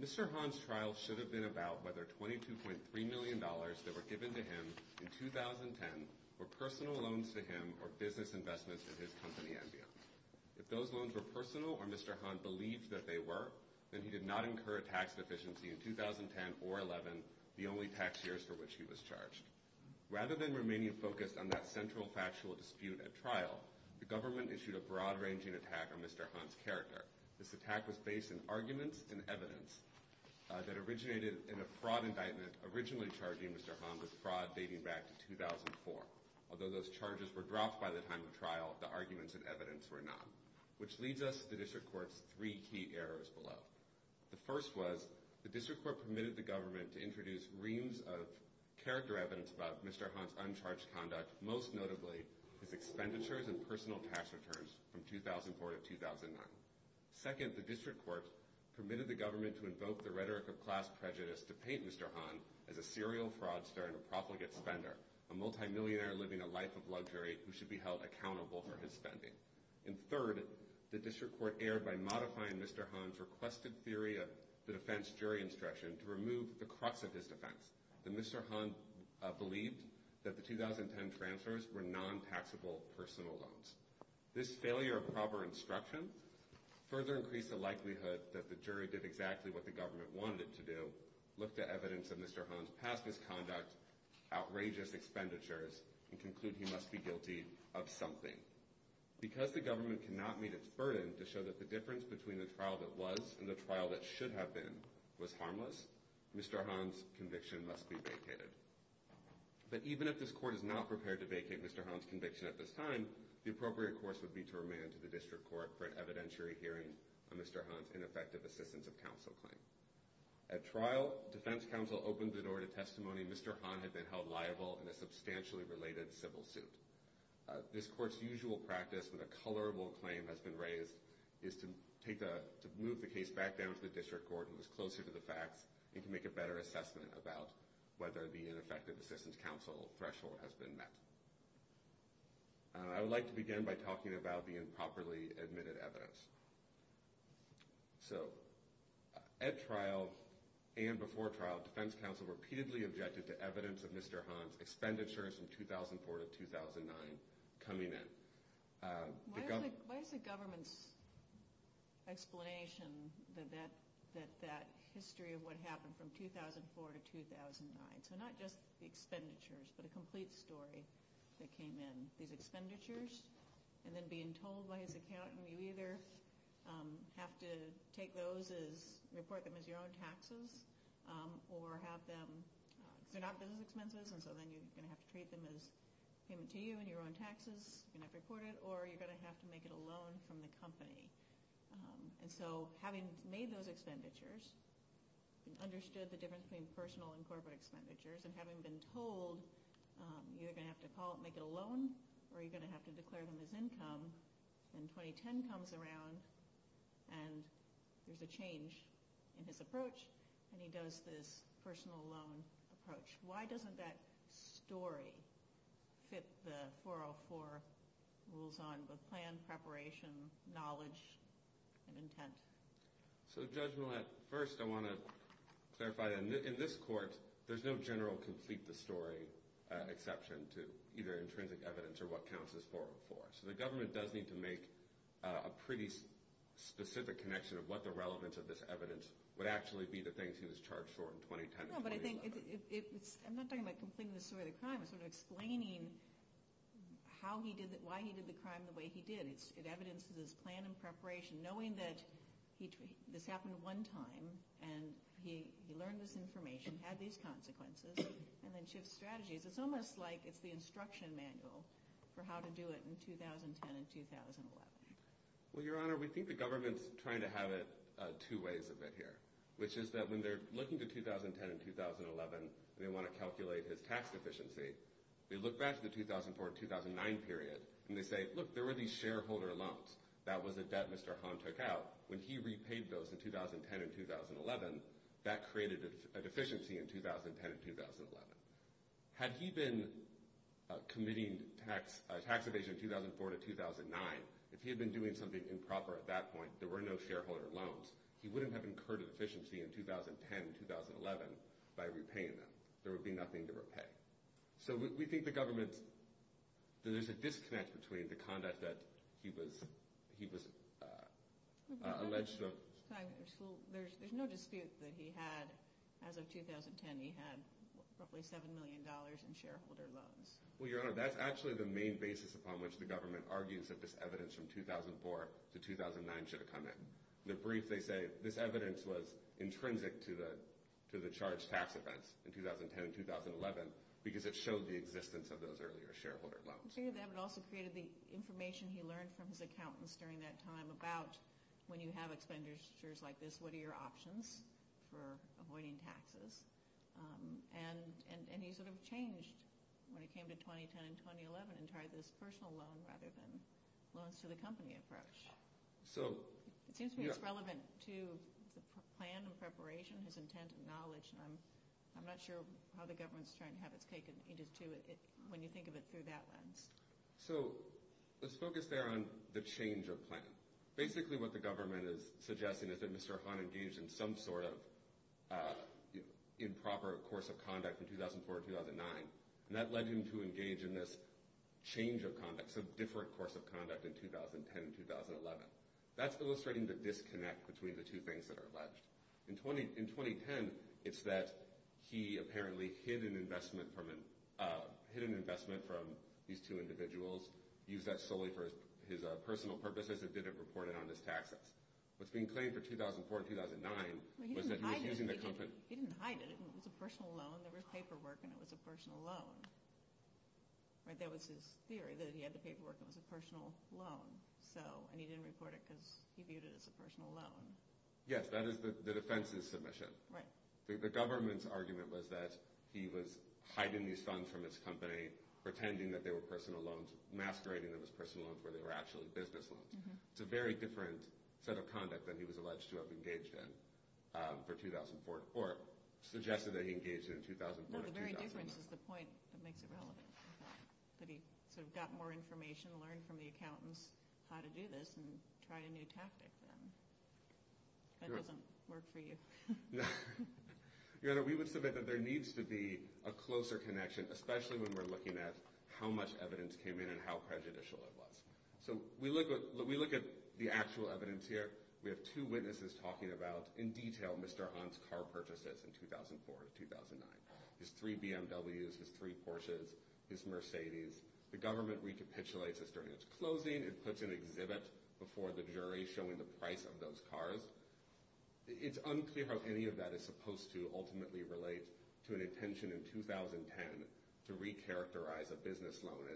Mr. Han's trial should have been about whether $22.3 million that were given to him in 2010 were personal loans to him or business investments in his company and beyond. If those loans were personal or Mr. Han believed that they were, then he did not incur a tax deficiency in 2010 or 2011, the only tax years for which he was charged. Rather than remaining focused on that central factual dispute at trial, the government issued a broad-ranging attack on Mr. Han's character. This attack was based on arguments and evidence that originated in a fraud indictment originally charging Mr. Han with fraud dating back to 2004. Although those charges were dropped by the time of trial, the arguments and evidence were not. Which leads us to the District Court's three key errors below. The first was, the District Court permitted the government to introduce reams of character evidence about Mr. Han's uncharged conduct, most notably his expenditures and personal tax returns from 2004 to 2009. Second, the District Court permitted the government to invoke the rhetoric of class prejudice to paint Mr. Han as a serial fraudster and a profligate spender, a multimillionaire living a life of luxury who should be held accountable for his spending. And third, the District Court erred by modifying Mr. Han's requested theory of the defense jury instruction to remove the crux of his defense, that Mr. Han believed that the 2010 transfers were non-taxable personal loans. This failure of proper instruction further increased the likelihood that the jury did exactly what the government wanted it to do, look to evidence of Mr. Han's past misconduct, outrageous expenditures, and conclude he must be guilty of something. Because the government cannot meet its burden to show that the difference between the trial that was and the trial that should have been was harmless, Mr. Han's conviction must be vacated. But even if this court is not prepared to vacate Mr. Han's conviction at this time, the appropriate course would be to remand to the District Court for an evidentiary hearing on Mr. Han's ineffective assistance of counsel claim. At trial, defense counsel opened the door to testimony Mr. Han had been held liable in a substantially related civil suit. This court's usual practice when a colorable claim has been raised is to move the case back down to the District Court who is closer to the facts and can make a better assessment about whether the ineffective assistance counsel threshold has been met. I would like to begin by talking about the improperly admitted evidence. So, at trial and before trial, defense counsel repeatedly objected to evidence of Mr. Han's expenditures from 2004 to 2009 coming in. Why is the government's explanation that that history of what happened from 2004 to 2009, so not just the expenditures but a complete story that came in, these expenditures? And then being told by his accountant, you either have to take those as, report them as your own taxes, or have them, they're not business expenses, and so then you're going to have to treat them as payment to you and your own taxes, you're going to have to report it, or you're going to have to make it a loan from the company. And so, having made those expenditures, and understood the difference between personal and corporate expenditures, and having been told you're going to have to call it, make it a loan, or you're going to have to declare them as income, then 2010 comes around, and there's a change in his approach, and he does this personal loan approach. Why doesn't that story fit the 404 rules on both plan, preparation, knowledge, and intent? So Judge Millett, first I want to clarify that in this court, there's no general complete the story exception to either intrinsic evidence or what counts as 404. So the government does need to make a pretty specific connection of what the relevance of this evidence would actually be to things he was charged for in 2010 and 2011. No, but I think it's, I'm not talking about completing the story of the crime, I'm sort of explaining how he did, why he did the crime the way he did. It evidences his plan and preparation, knowing that this happened one time, and he learned this information, had these consequences, and then shifts strategies. It's almost like it's the instruction manual for how to do it in 2010 and 2011. Well, Your Honor, we think the government's trying to have it two ways of it here, which is that when they're looking to 2010 and 2011, and they want to calculate his tax deficiency, they look back to the 2004 and 2009 period, and they say, look, there were these shareholder loans. That was a debt Mr. Hahn took out. When he repaid those in 2010 and 2011, that created a deficiency in 2010 and 2011. Had he been committing tax evasion in 2004 to 2009, if he had been doing something improper at that point, there were no shareholder loans, he wouldn't have incurred a deficiency in 2010 and 2011 by repaying them. There would be nothing to repay. So we think the government, there's a disconnect between the conduct that he was alleged to have... There's no dispute that he had, as of 2010, he had roughly $7 million in shareholder loans. Well, Your Honor, that's actually the main basis upon which the government argues that this evidence from 2004 to 2009 should have come in. The brief, they say, this evidence was intrinsic to the charged tax events in 2010 and 2011, because it showed the existence of those earlier shareholder loans. It also created the information he learned from his accountants during that time about when you have expenditures like this, what are your options for avoiding taxes? And he sort of changed when it came to 2010 and 2011 and tried this personal loan rather than loans to the company approach. It seems to me it's relevant to the plan and preparation, his intent and knowledge, and I'm not sure how the government's trying to have its cake and eat it, when you think of it through that lens. So, let's focus there on the change of plan. Basically what the government is suggesting is that Mr. Ahan engaged in some sort of improper course of conduct in 2004-2009, and that led him to engage in this change of conduct, some different course of conduct in 2010-2011. That's illustrating the disconnect between the two things that are alleged. In 2010, it's that he apparently hid an investment from these two individuals, used that solely for his personal purposes, and didn't report it on his taxes. What's being claimed for 2004-2009 was that he was using the company... He didn't hide it, it was a personal loan, there was paperwork and it was a personal loan. That was his theory, that he had the paperwork and it was a personal loan, and he didn't report it because he viewed it as a personal loan. Yes, that is the defense's submission. The government's argument was that he was hiding these funds from his company, pretending that they were personal loans, masquerading them as personal loans where they were actually business loans. It's a very different set of conduct than he was alleged to have engaged in for 2004, or suggested that he engaged in 2004-2009. No, the very difference is the point that makes it relevant. That he sort of got more information, learned from the accountants how to do this, and tried a new tactic then. That doesn't work for you. Your Honor, we would submit that there needs to be a closer connection, especially when we're looking at how much evidence came in and how prejudicial it was. So, we look at the actual evidence here, we have two witnesses talking about, in detail, Mr. Hahn's car purchases in 2004-2009. His three BMWs, his three Porsches, his Mercedes. The government recapitulates this during its closing, it puts an exhibit before the jury showing the price of those cars. It's unclear how any of that is supposed to ultimately relate to an intention in 2010 to re-characterize a business loan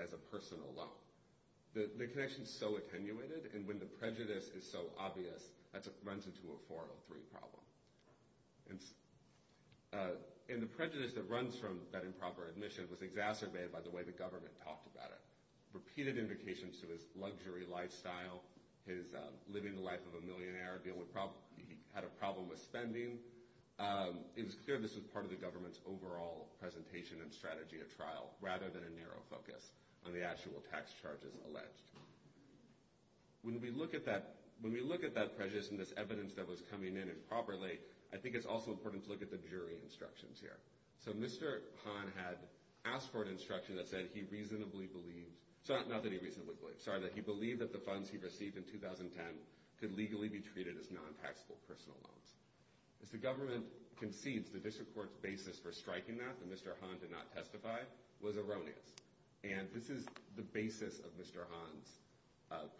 as a personal loan. The connection is so attenuated, and when the prejudice is so obvious, that runs into a 403 problem. And the prejudice that runs from that improper admission was exacerbated by the way the government talked about it. Repeated indications to his luxury lifestyle, his living the life of a millionaire, he had a problem with spending. It was clear this was part of the government's overall presentation and strategy of trial, rather than a narrow focus on the actual tax charges alleged. When we look at that prejudice and this evidence that was coming in improperly, I think it's also important to look at the jury instructions here. So, Mr. Hahn had asked for an instruction that said he reasonably believed, not that he reasonably believed, sorry, that he believed that the funds he received in 2010 could legally be treated as non-taxable personal loans. As the government concedes, the district court's basis for striking that, that Mr. Hahn did not testify, was erroneous. And this is the basis of Mr. Hahn's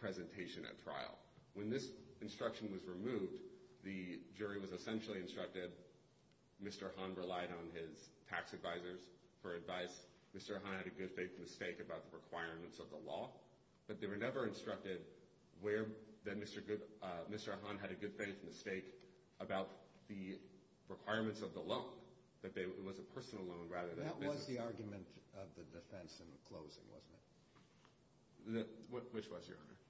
presentation at trial. When this instruction was removed, the jury was essentially instructed, Mr. Hahn relied on his tax advisors for advice. Mr. Hahn had a good faith mistake about the requirements of the law. But they were never instructed where Mr. Hahn had a good faith mistake about the requirements of the loan. That was the argument of the defense in the closing, wasn't it? Which was, Your Honor?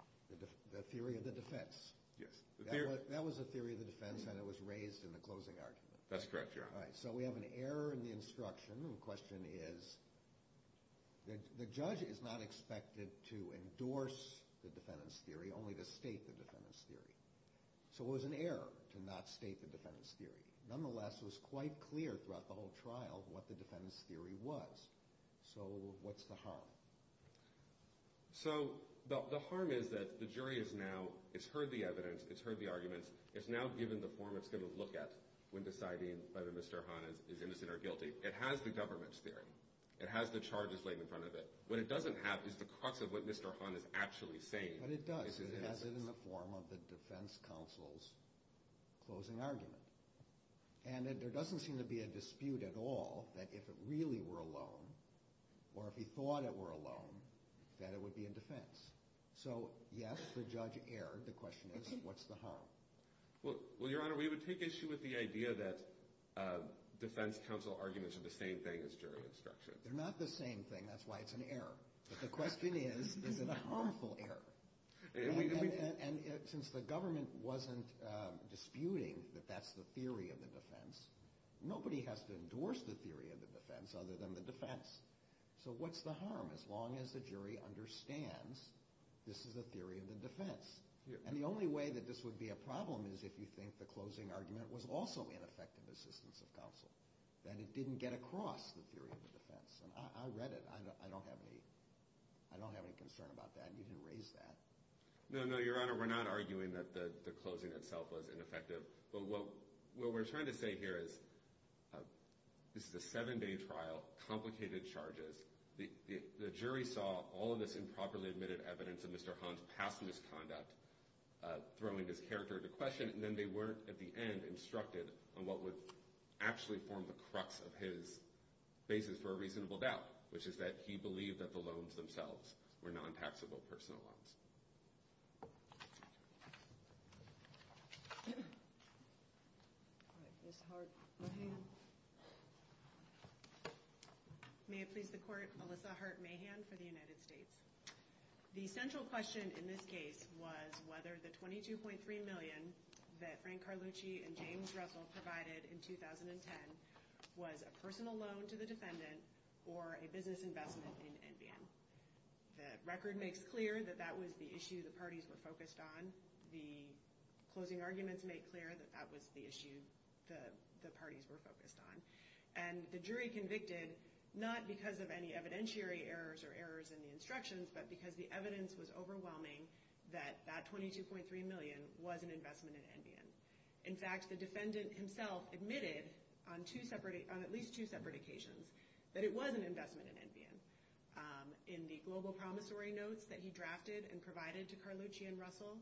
The theory of the defense. Yes. That was the theory of the defense and it was raised in the closing argument. That's correct, Your Honor. So we have an error in the instruction. The question is, the judge is not expected to endorse the defendant's theory, only to state the defendant's theory. So it was an error to not state the defendant's theory. Nonetheless, it was quite clear throughout the whole trial what the defendant's theory was. So what's the harm? So the harm is that the jury is now, it's heard the evidence, it's heard the arguments, it's now given the form it's going to look at when deciding whether Mr. Hahn is innocent or guilty. It has the government's theory. It has the charges laid in front of it. What it doesn't have is the crux of what Mr. Hahn is actually saying. But it does. It has it in the form of the defense counsel's closing argument. And there doesn't seem to be a dispute at all that if it really were alone, or if he thought it were alone, that it would be in defense. So, yes, the judge erred. The question is, what's the harm? Well, Your Honor, we would take issue with the idea that defense counsel arguments are the same thing as jury instructions. They're not the same thing. That's why it's an error. But the question is, is it a harmful error? And since the government wasn't disputing that that's the theory of the defense, nobody has to endorse the theory of the defense other than the defense. So what's the harm as long as the jury understands this is the theory of the defense? And the only way that this would be a problem is if you think the closing argument was also ineffective assistance of counsel. I read it. I don't have any concern about that. You didn't raise that. No, no, Your Honor, we're not arguing that the closing itself was ineffective. But what we're trying to say here is this is a seven-day trial, complicated charges. The jury saw all of this improperly admitted evidence of Mr. Hahn's past misconduct, throwing his character into question. And then they weren't, at the end, instructed on what would actually form the crux of his basis for a reasonable doubt, which is that he believed that the loans themselves were non-taxable personal loans. All right, Ms. Hart-Mahan. May it please the Court, Alyssa Hart-Mahan for the United States. The central question in this case was whether the $22.3 million that Frank Carlucci and James Russell provided in 2010 was a personal loan to the defendant or a business investment in NBN. The record makes clear that that was the issue the parties were focused on. The closing arguments make clear that that was the issue the parties were focused on. And the jury convicted not because of any evidentiary errors or errors in the instructions, but because the evidence was overwhelming that that $22.3 million was an investment in NBN. In fact, the defendant himself admitted on at least two separate occasions that it was an investment in NBN. In the global promissory notes that he drafted and provided to Carlucci and Russell,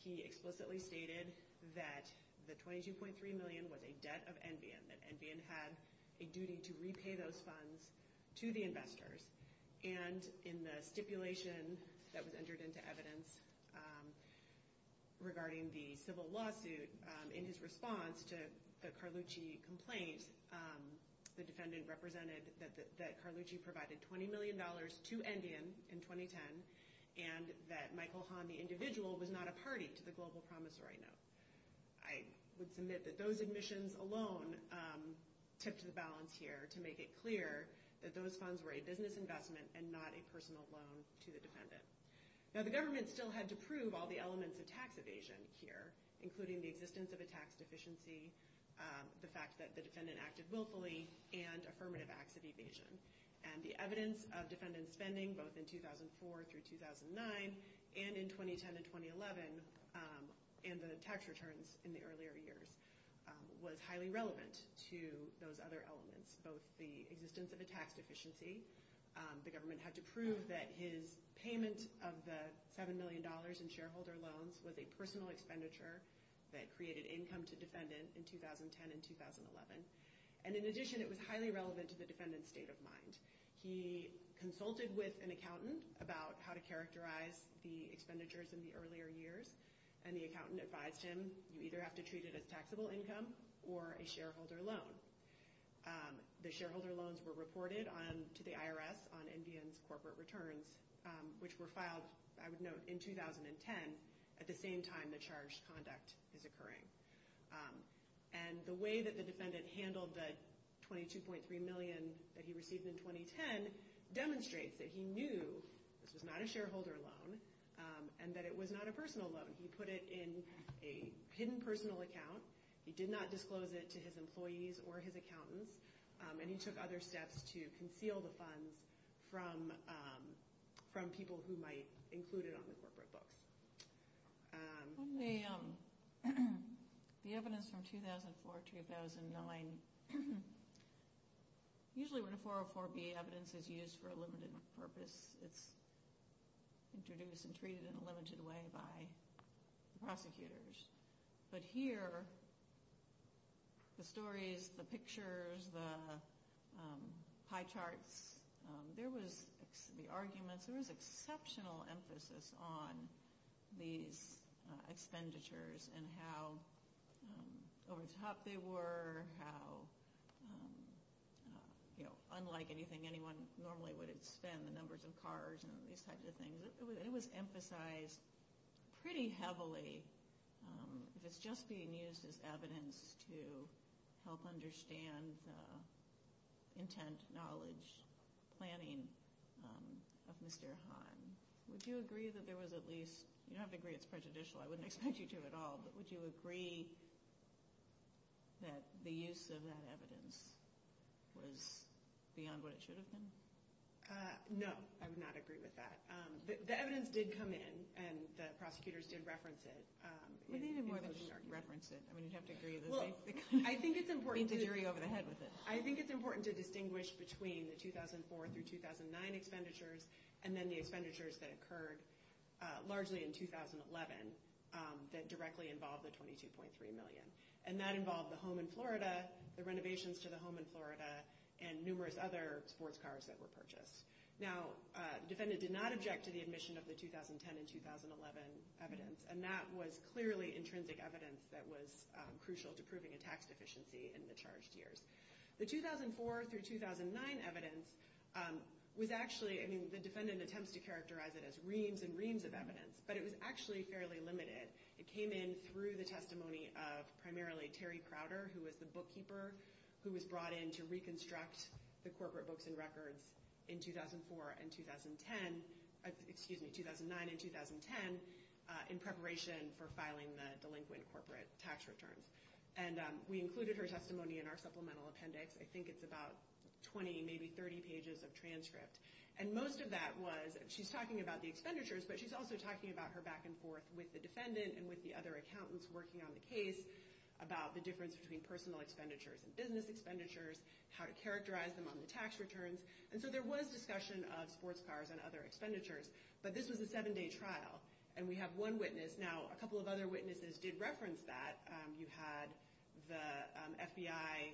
he explicitly stated that the $22.3 million was a debt of NBN, that NBN had a duty to repay those funds to the investors. And in the stipulation that was entered into evidence regarding the civil lawsuit, in his response to the Carlucci complaint, the defendant represented that Carlucci provided $20 million to NBN in 2010, and that Michael Hahn, the individual, was not a party to the global promissory note. I would submit that those admissions alone tipped the balance here to make it clear that those funds were a business investment and not a personal loan to the defendant. Now, the government still had to prove all the elements of tax evasion here, including the existence of a tax deficiency, the fact that the defendant acted willfully, and affirmative acts of evasion. And the evidence of defendant spending, both in 2004 through 2009, and in 2010 and 2011, and the tax returns in the earlier years, was highly relevant to those other elements, both the existence of a tax deficiency. The government had to prove that his payment of the $7 million in shareholder loans was a personal expenditure that created income to defendant in 2010 and 2011. And in addition, it was highly relevant to the defendant's state of mind. He consulted with an accountant about how to characterize the expenditures in the earlier years, and the accountant advised him, you either have to treat it as taxable income or a shareholder loan. The shareholder loans were reported to the IRS on NBN's corporate returns, which were filed, I would note, in 2010 at the same time the charged conduct is occurring. And the way that the defendant handled the $22.3 million that he received in 2010 demonstrates that he knew this was not a shareholder loan and that it was not a personal loan. He put it in a hidden personal account. He did not disclose it to his employees or his accountants, and he took other steps to conceal the funds from people who might include it on the corporate books. The evidence from 2004-2009, usually when a 404B evidence is used for a limited purpose, it's introduced and treated in a limited way by prosecutors. But here, the stories, the pictures, the pie charts, there was the arguments. There was exceptional emphasis on these expenditures and how over the top they were, how unlike anything anyone normally would spend, the numbers of cars and these types of things. It was emphasized pretty heavily if it's just being used as evidence to help understand the intent, knowledge, planning of Mr. Hahn. Would you agree that there was at least – you don't have to agree it's prejudicial. I wouldn't expect you to at all. But would you agree that the use of that evidence was beyond what it should have been? No, I would not agree with that. The evidence did come in, and the prosecutors did reference it. Well, they did more than just reference it. I mean, you'd have to agree with the jury over the head with it. I think it's important to distinguish between the 2004-2009 expenditures and then the expenditures that occurred largely in 2011 that directly involved the $22.3 million. And that involved the home in Florida, the renovations to the home in Florida, and numerous other sports cars that were purchased. Now, the defendant did not object to the admission of the 2010 and 2011 evidence, and that was clearly intrinsic evidence that was crucial to proving a tax deficiency in the charged years. The 2004-2009 evidence was actually – I mean, the defendant attempts to characterize it as reams and reams of evidence, but it was actually fairly limited. It came in through the testimony of primarily Terry Crowder, who was the bookkeeper, who was brought in to reconstruct the corporate books and records in 2004 and 2010 – excuse me, 2009 and 2010 in preparation for filing the delinquent corporate tax returns. And we included her testimony in our supplemental appendix. I think it's about 20, maybe 30 pages of transcript. And most of that was – she's talking about the expenditures, but she's also talking about her back and forth with the defendant and with the other accountants working on the case about the difference between personal expenditures and business expenditures, how to characterize them on the tax returns. And so there was discussion of sports cars and other expenditures, but this was a seven-day trial. And we have one witness. Now, a couple of other witnesses did reference that. You had the FBI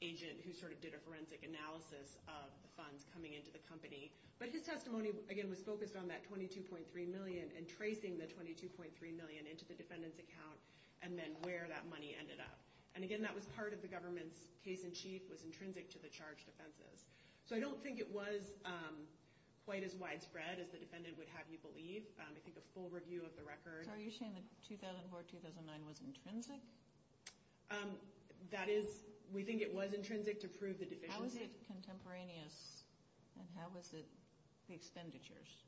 agent who sort of did a forensic analysis of the funds coming into the company. But his testimony, again, was focused on that $22.3 million and tracing the $22.3 million into the defendant's account and then where that money ended up. And, again, that was part of the government's case in chief was intrinsic to the charged offenses. So I don't think it was quite as widespread as the defendant would have you believe. I think a full review of the record. So are you saying that 2004-2009 was intrinsic? That is – we think it was intrinsic to prove the deficiency. How is it contemporaneous and how is it the expenditures?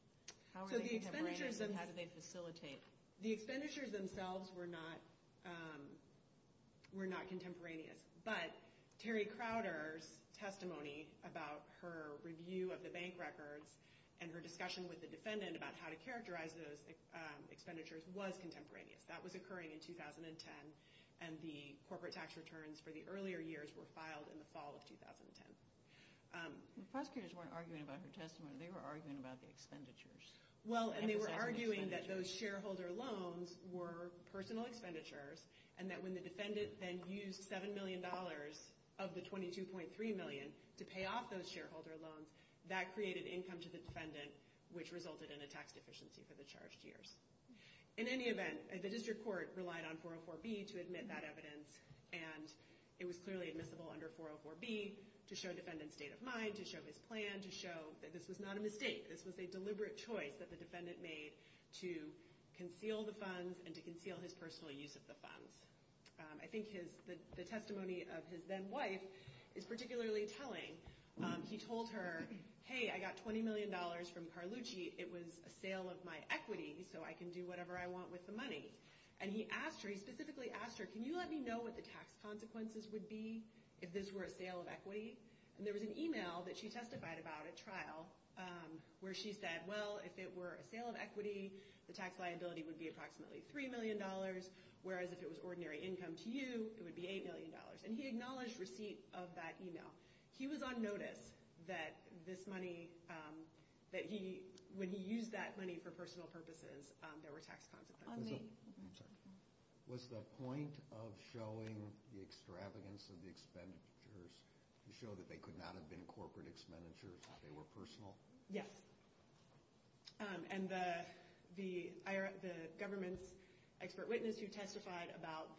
How are they contemporaneous and how do they facilitate? The expenditures themselves were not contemporaneous. But Terry Crowder's testimony about her review of the bank records and her discussion with the defendant about how to characterize those expenditures was contemporaneous. That was occurring in 2010, and the corporate tax returns for the earlier years were filed in the fall of 2010. The prosecutors weren't arguing about her testimony. They were arguing about the expenditures. Well, and they were arguing that those shareholder loans were personal expenditures and that when the defendant then used $7 million of the $22.3 million to pay off those shareholder loans, that created income to the defendant, which resulted in a tax deficiency for the charged years. In any event, the district court relied on 404B to admit that evidence, and it was clearly admissible under 404B to show the defendant's state of mind, to show his plan, to show that this was not a mistake. This was a deliberate choice that the defendant made to conceal the funds and to conceal his personal use of the funds. I think the testimony of his then-wife is particularly telling. He told her, hey, I got $20 million from Carlucci. It was a sale of my equity, so I can do whatever I want with the money. And he asked her, he specifically asked her, can you let me know what the tax consequences would be if this were a sale of equity? And there was an email that she testified about at trial where she said, well, if it were a sale of equity, the tax liability would be approximately $3 million, whereas if it was ordinary income to you, it would be $8 million. And he acknowledged receipt of that email. He was on notice that this money, that when he used that money for personal purposes, there were tax consequences. Was the point of showing the extravagance of the expenditures to show that they could not have been corporate expenditures, that they were personal? Yes. And the government's expert witness who testified about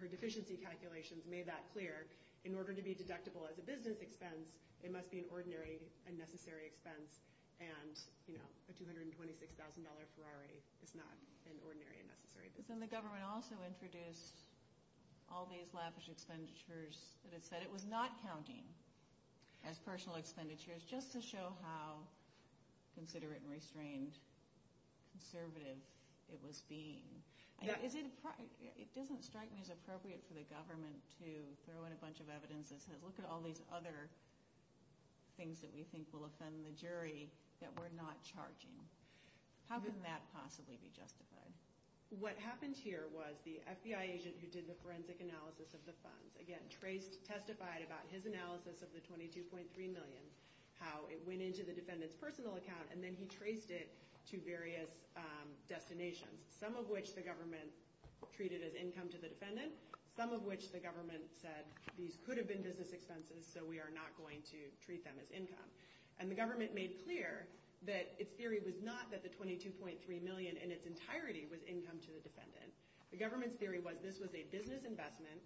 her deficiency calculations made that clear. In order to be deductible as a business expense, it must be an ordinary, unnecessary expense. And, you know, a $226,000 Ferrari is not an ordinary, unnecessary expense. And the government also introduced all these lavish expenditures that it said it was not counting as personal expenditures just to show how considerate and restrained, conservative it was being. It doesn't strike me as appropriate for the government to throw in a bunch of evidence that says, look at all these other things that we think will offend the jury that we're not charging. How can that possibly be justified? What happened here was the FBI agent who did the forensic analysis of the funds, again, testified about his analysis of the $22.3 million, how it went into the defendant's personal account, and then he traced it to various destinations, some of which the government treated as income to the defendant, some of which the government said these could have been business expenses, so we are not going to treat them as income. And the government made clear that its theory was not that the $22.3 million in its entirety was income to the defendant. The government's theory was this was a business investment,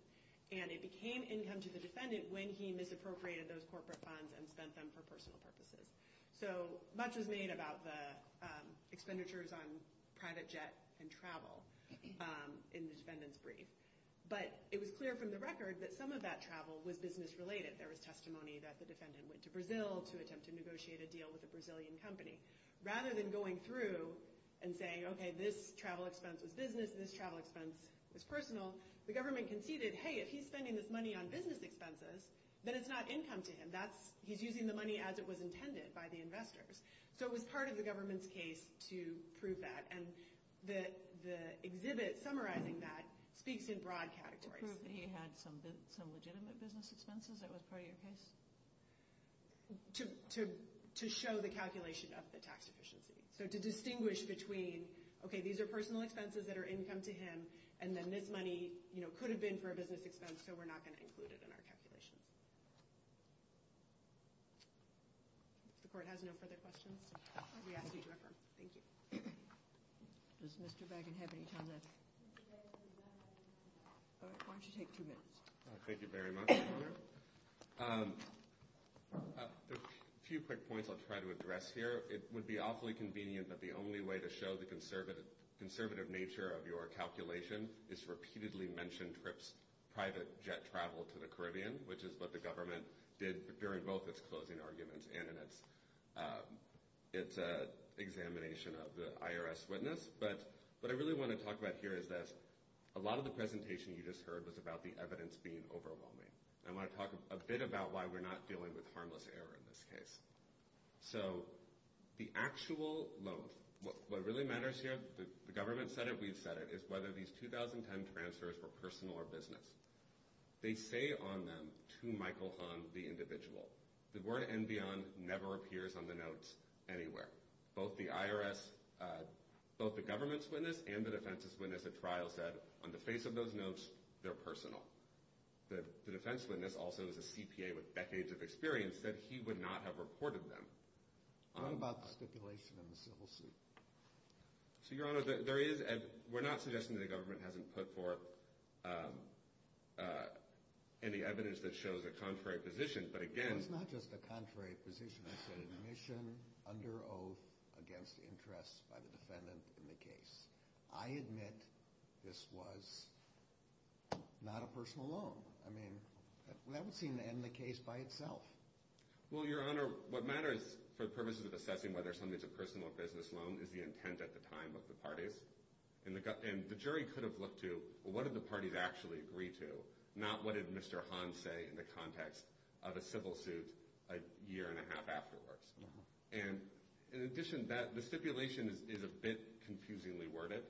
and it became income to the defendant when he misappropriated those corporate funds and spent them for personal purposes. So much was made about the expenditures on private jet and travel in the defendant's brief. But it was clear from the record that some of that travel was business-related. There was testimony that the defendant went to Brazil to attempt to negotiate a deal with a Brazilian company. Rather than going through and saying, okay, this travel expense was business, this travel expense was personal, the government conceded, hey, if he's spending this money on business expenses, then it's not income to him. He's using the money as it was intended by the investors. So it was part of the government's case to prove that. And the exhibit summarizing that speaks in broad categories. To prove that he had some legitimate business expenses that was part of your case? To show the calculation of the tax efficiency. So to distinguish between, okay, these are personal expenses that are income to him, and then this money could have been for a business expense, so we're not going to include it in our calculations. If the court has no further questions, we ask you to refer. Thank you. Does Mr. Baggin have any time left? Why don't you take two minutes? Thank you very much. A few quick points I'll try to address here. It would be awfully convenient that the only way to show the conservative nature of your calculation is to repeatedly mention Tripp's private jet travel to the Caribbean, which is what the government did during both its closing arguments and in its examination of the IRS witness. But what I really want to talk about here is that a lot of the presentation you just heard was about the evidence being overwhelming. I want to talk a bit about why we're not dealing with harmless error in this case. So the actual loan, what really matters here, the government said it, we've said it, is whether these 2010 transfers were personal or business. They say on them, to Michael Hahn, the individual. The word and beyond never appears on the notes anywhere. Both the IRS, both the government's witness and the defense's witness at trial said, on the face of those notes, they're personal. The defense witness, also as a CPA with decades of experience, said he would not have reported them. What about the stipulation in the civil suit? So, Your Honor, we're not suggesting that the government hasn't put forth any evidence that shows a contrary position, but again— Well, it's not just a contrary position. It's an admission under oath against interest by the defendant in the case. I admit this was not a personal loan. I mean, that would seem to end the case by itself. Well, Your Honor, what matters for the purposes of assessing whether something's a personal or business loan is the intent at the time of the parties. And the jury could have looked to, well, what did the parties actually agree to, not what did Mr. Hahn say in the context of a civil suit a year and a half afterwards. And in addition, the stipulation is a bit confusingly worded.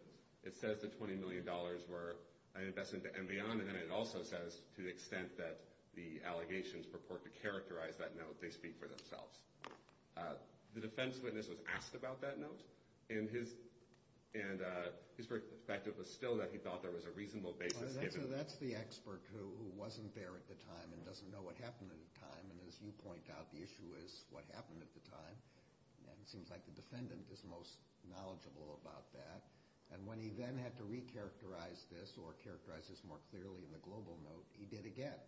It says that $20 million were invested and beyond, and then it also says to the extent that the allegations purport to characterize that note, they speak for themselves. The defense witness was asked about that note, and his perspective was still that he thought there was a reasonable basis given. Well, that's the expert who wasn't there at the time and doesn't know what happened at the time. And as you point out, the issue is what happened at the time. And it seems like the defendant is most knowledgeable about that. And when he then had to recharacterize this or characterize this more clearly in the global note, he did again.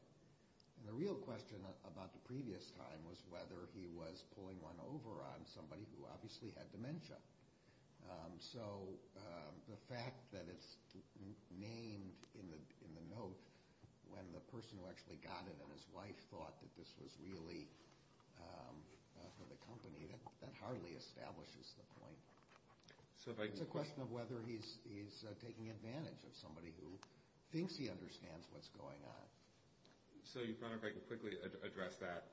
And the real question about the previous time was whether he was pulling one over on somebody who obviously had dementia. So the fact that it's named in the note, when the person who actually got it and his wife thought that this was really for the company, that hardly establishes the point. It's a question of whether he's taking advantage of somebody who thinks he understands what's going on. So, Your Honor, if I could quickly address that.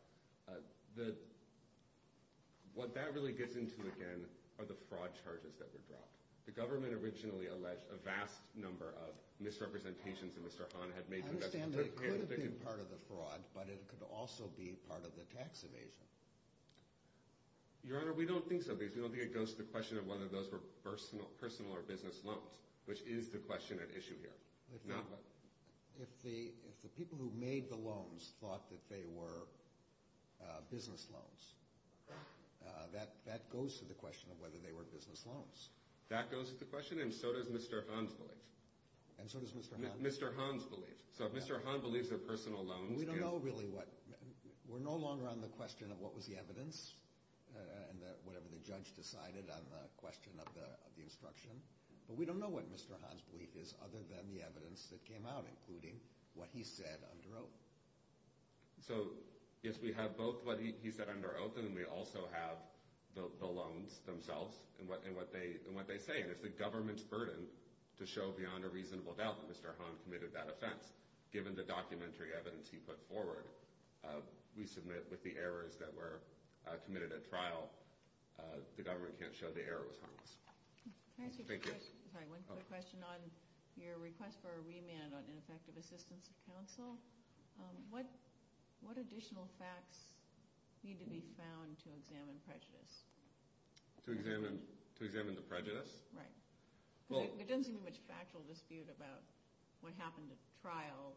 What that really gets into, again, are the fraud charges that were dropped. The government originally alleged a vast number of misrepresentations that Mr. Hahn had made. I understand that could have been part of the fraud, but it could also be part of the tax evasion. Your Honor, we don't think so. We don't think it goes to the question of whether those were personal or business loans, which is the question at issue here. If the people who made the loans thought that they were business loans, that goes to the question of whether they were business loans. That goes to the question, and so does Mr. Hahn's belief. And so does Mr. Hahn's belief. Mr. Hahn's belief. So if Mr. Hahn believes they're personal loans, We don't know really what – we're no longer on the question of what was the evidence and whatever the judge decided on the question of the instruction. But we don't know what Mr. Hahn's belief is other than the evidence that came out, including what he said under oath. So, yes, we have both what he said under oath, and then we also have the loans themselves and what they say. And it's the government's burden to show beyond a reasonable doubt that Mr. Hahn committed that offense, given the documentary evidence he put forward. We submit with the errors that were committed at trial. The government can't show the errors on us. Can I ask you a question? Sorry, one quick question on your request for a remand on ineffective assistance of counsel. What additional facts need to be found to examine prejudice? To examine the prejudice? Right. Because there doesn't seem to be much factual dispute about what happened at trial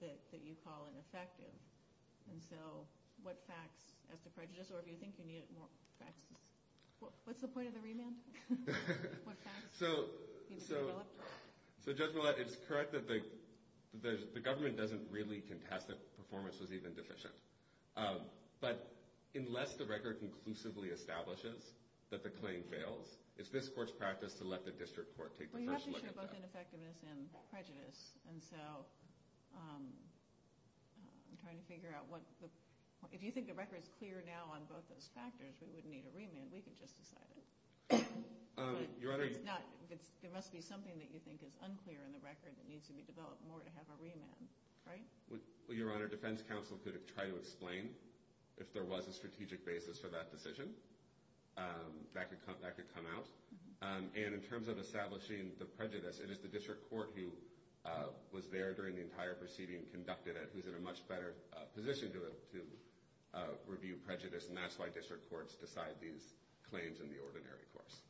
that you call ineffective. And so what facts as to prejudice, or if you think you need more facts? What's the point of the remand? What facts need to be developed? So, Judge Millett, it's correct that the government doesn't really contest that performance was even deficient. But unless the record conclusively establishes that the claim fails, it's this court's practice to let the district court take the first look at that. Well, you have to show both ineffectiveness and prejudice. And so I'm trying to figure out what the – if you think the record is clear now on both those factors, we wouldn't need a remand. We could just decide it. But it's not – there must be something that you think is unclear in the record that needs to be developed more to have a remand, right? Well, Your Honor, defense counsel could try to explain if there was a strategic basis for that decision. That could come out. And in terms of establishing the prejudice, it is the district court who was there during the entire proceeding and conducted it who's in a much better position to review prejudice. And that's why district courts decide these claims in the ordinary course.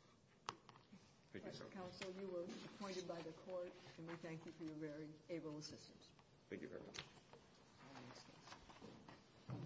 Thank you, sir. Counsel, you were appointed by the court, and we thank you for your very able assistance. Thank you very much.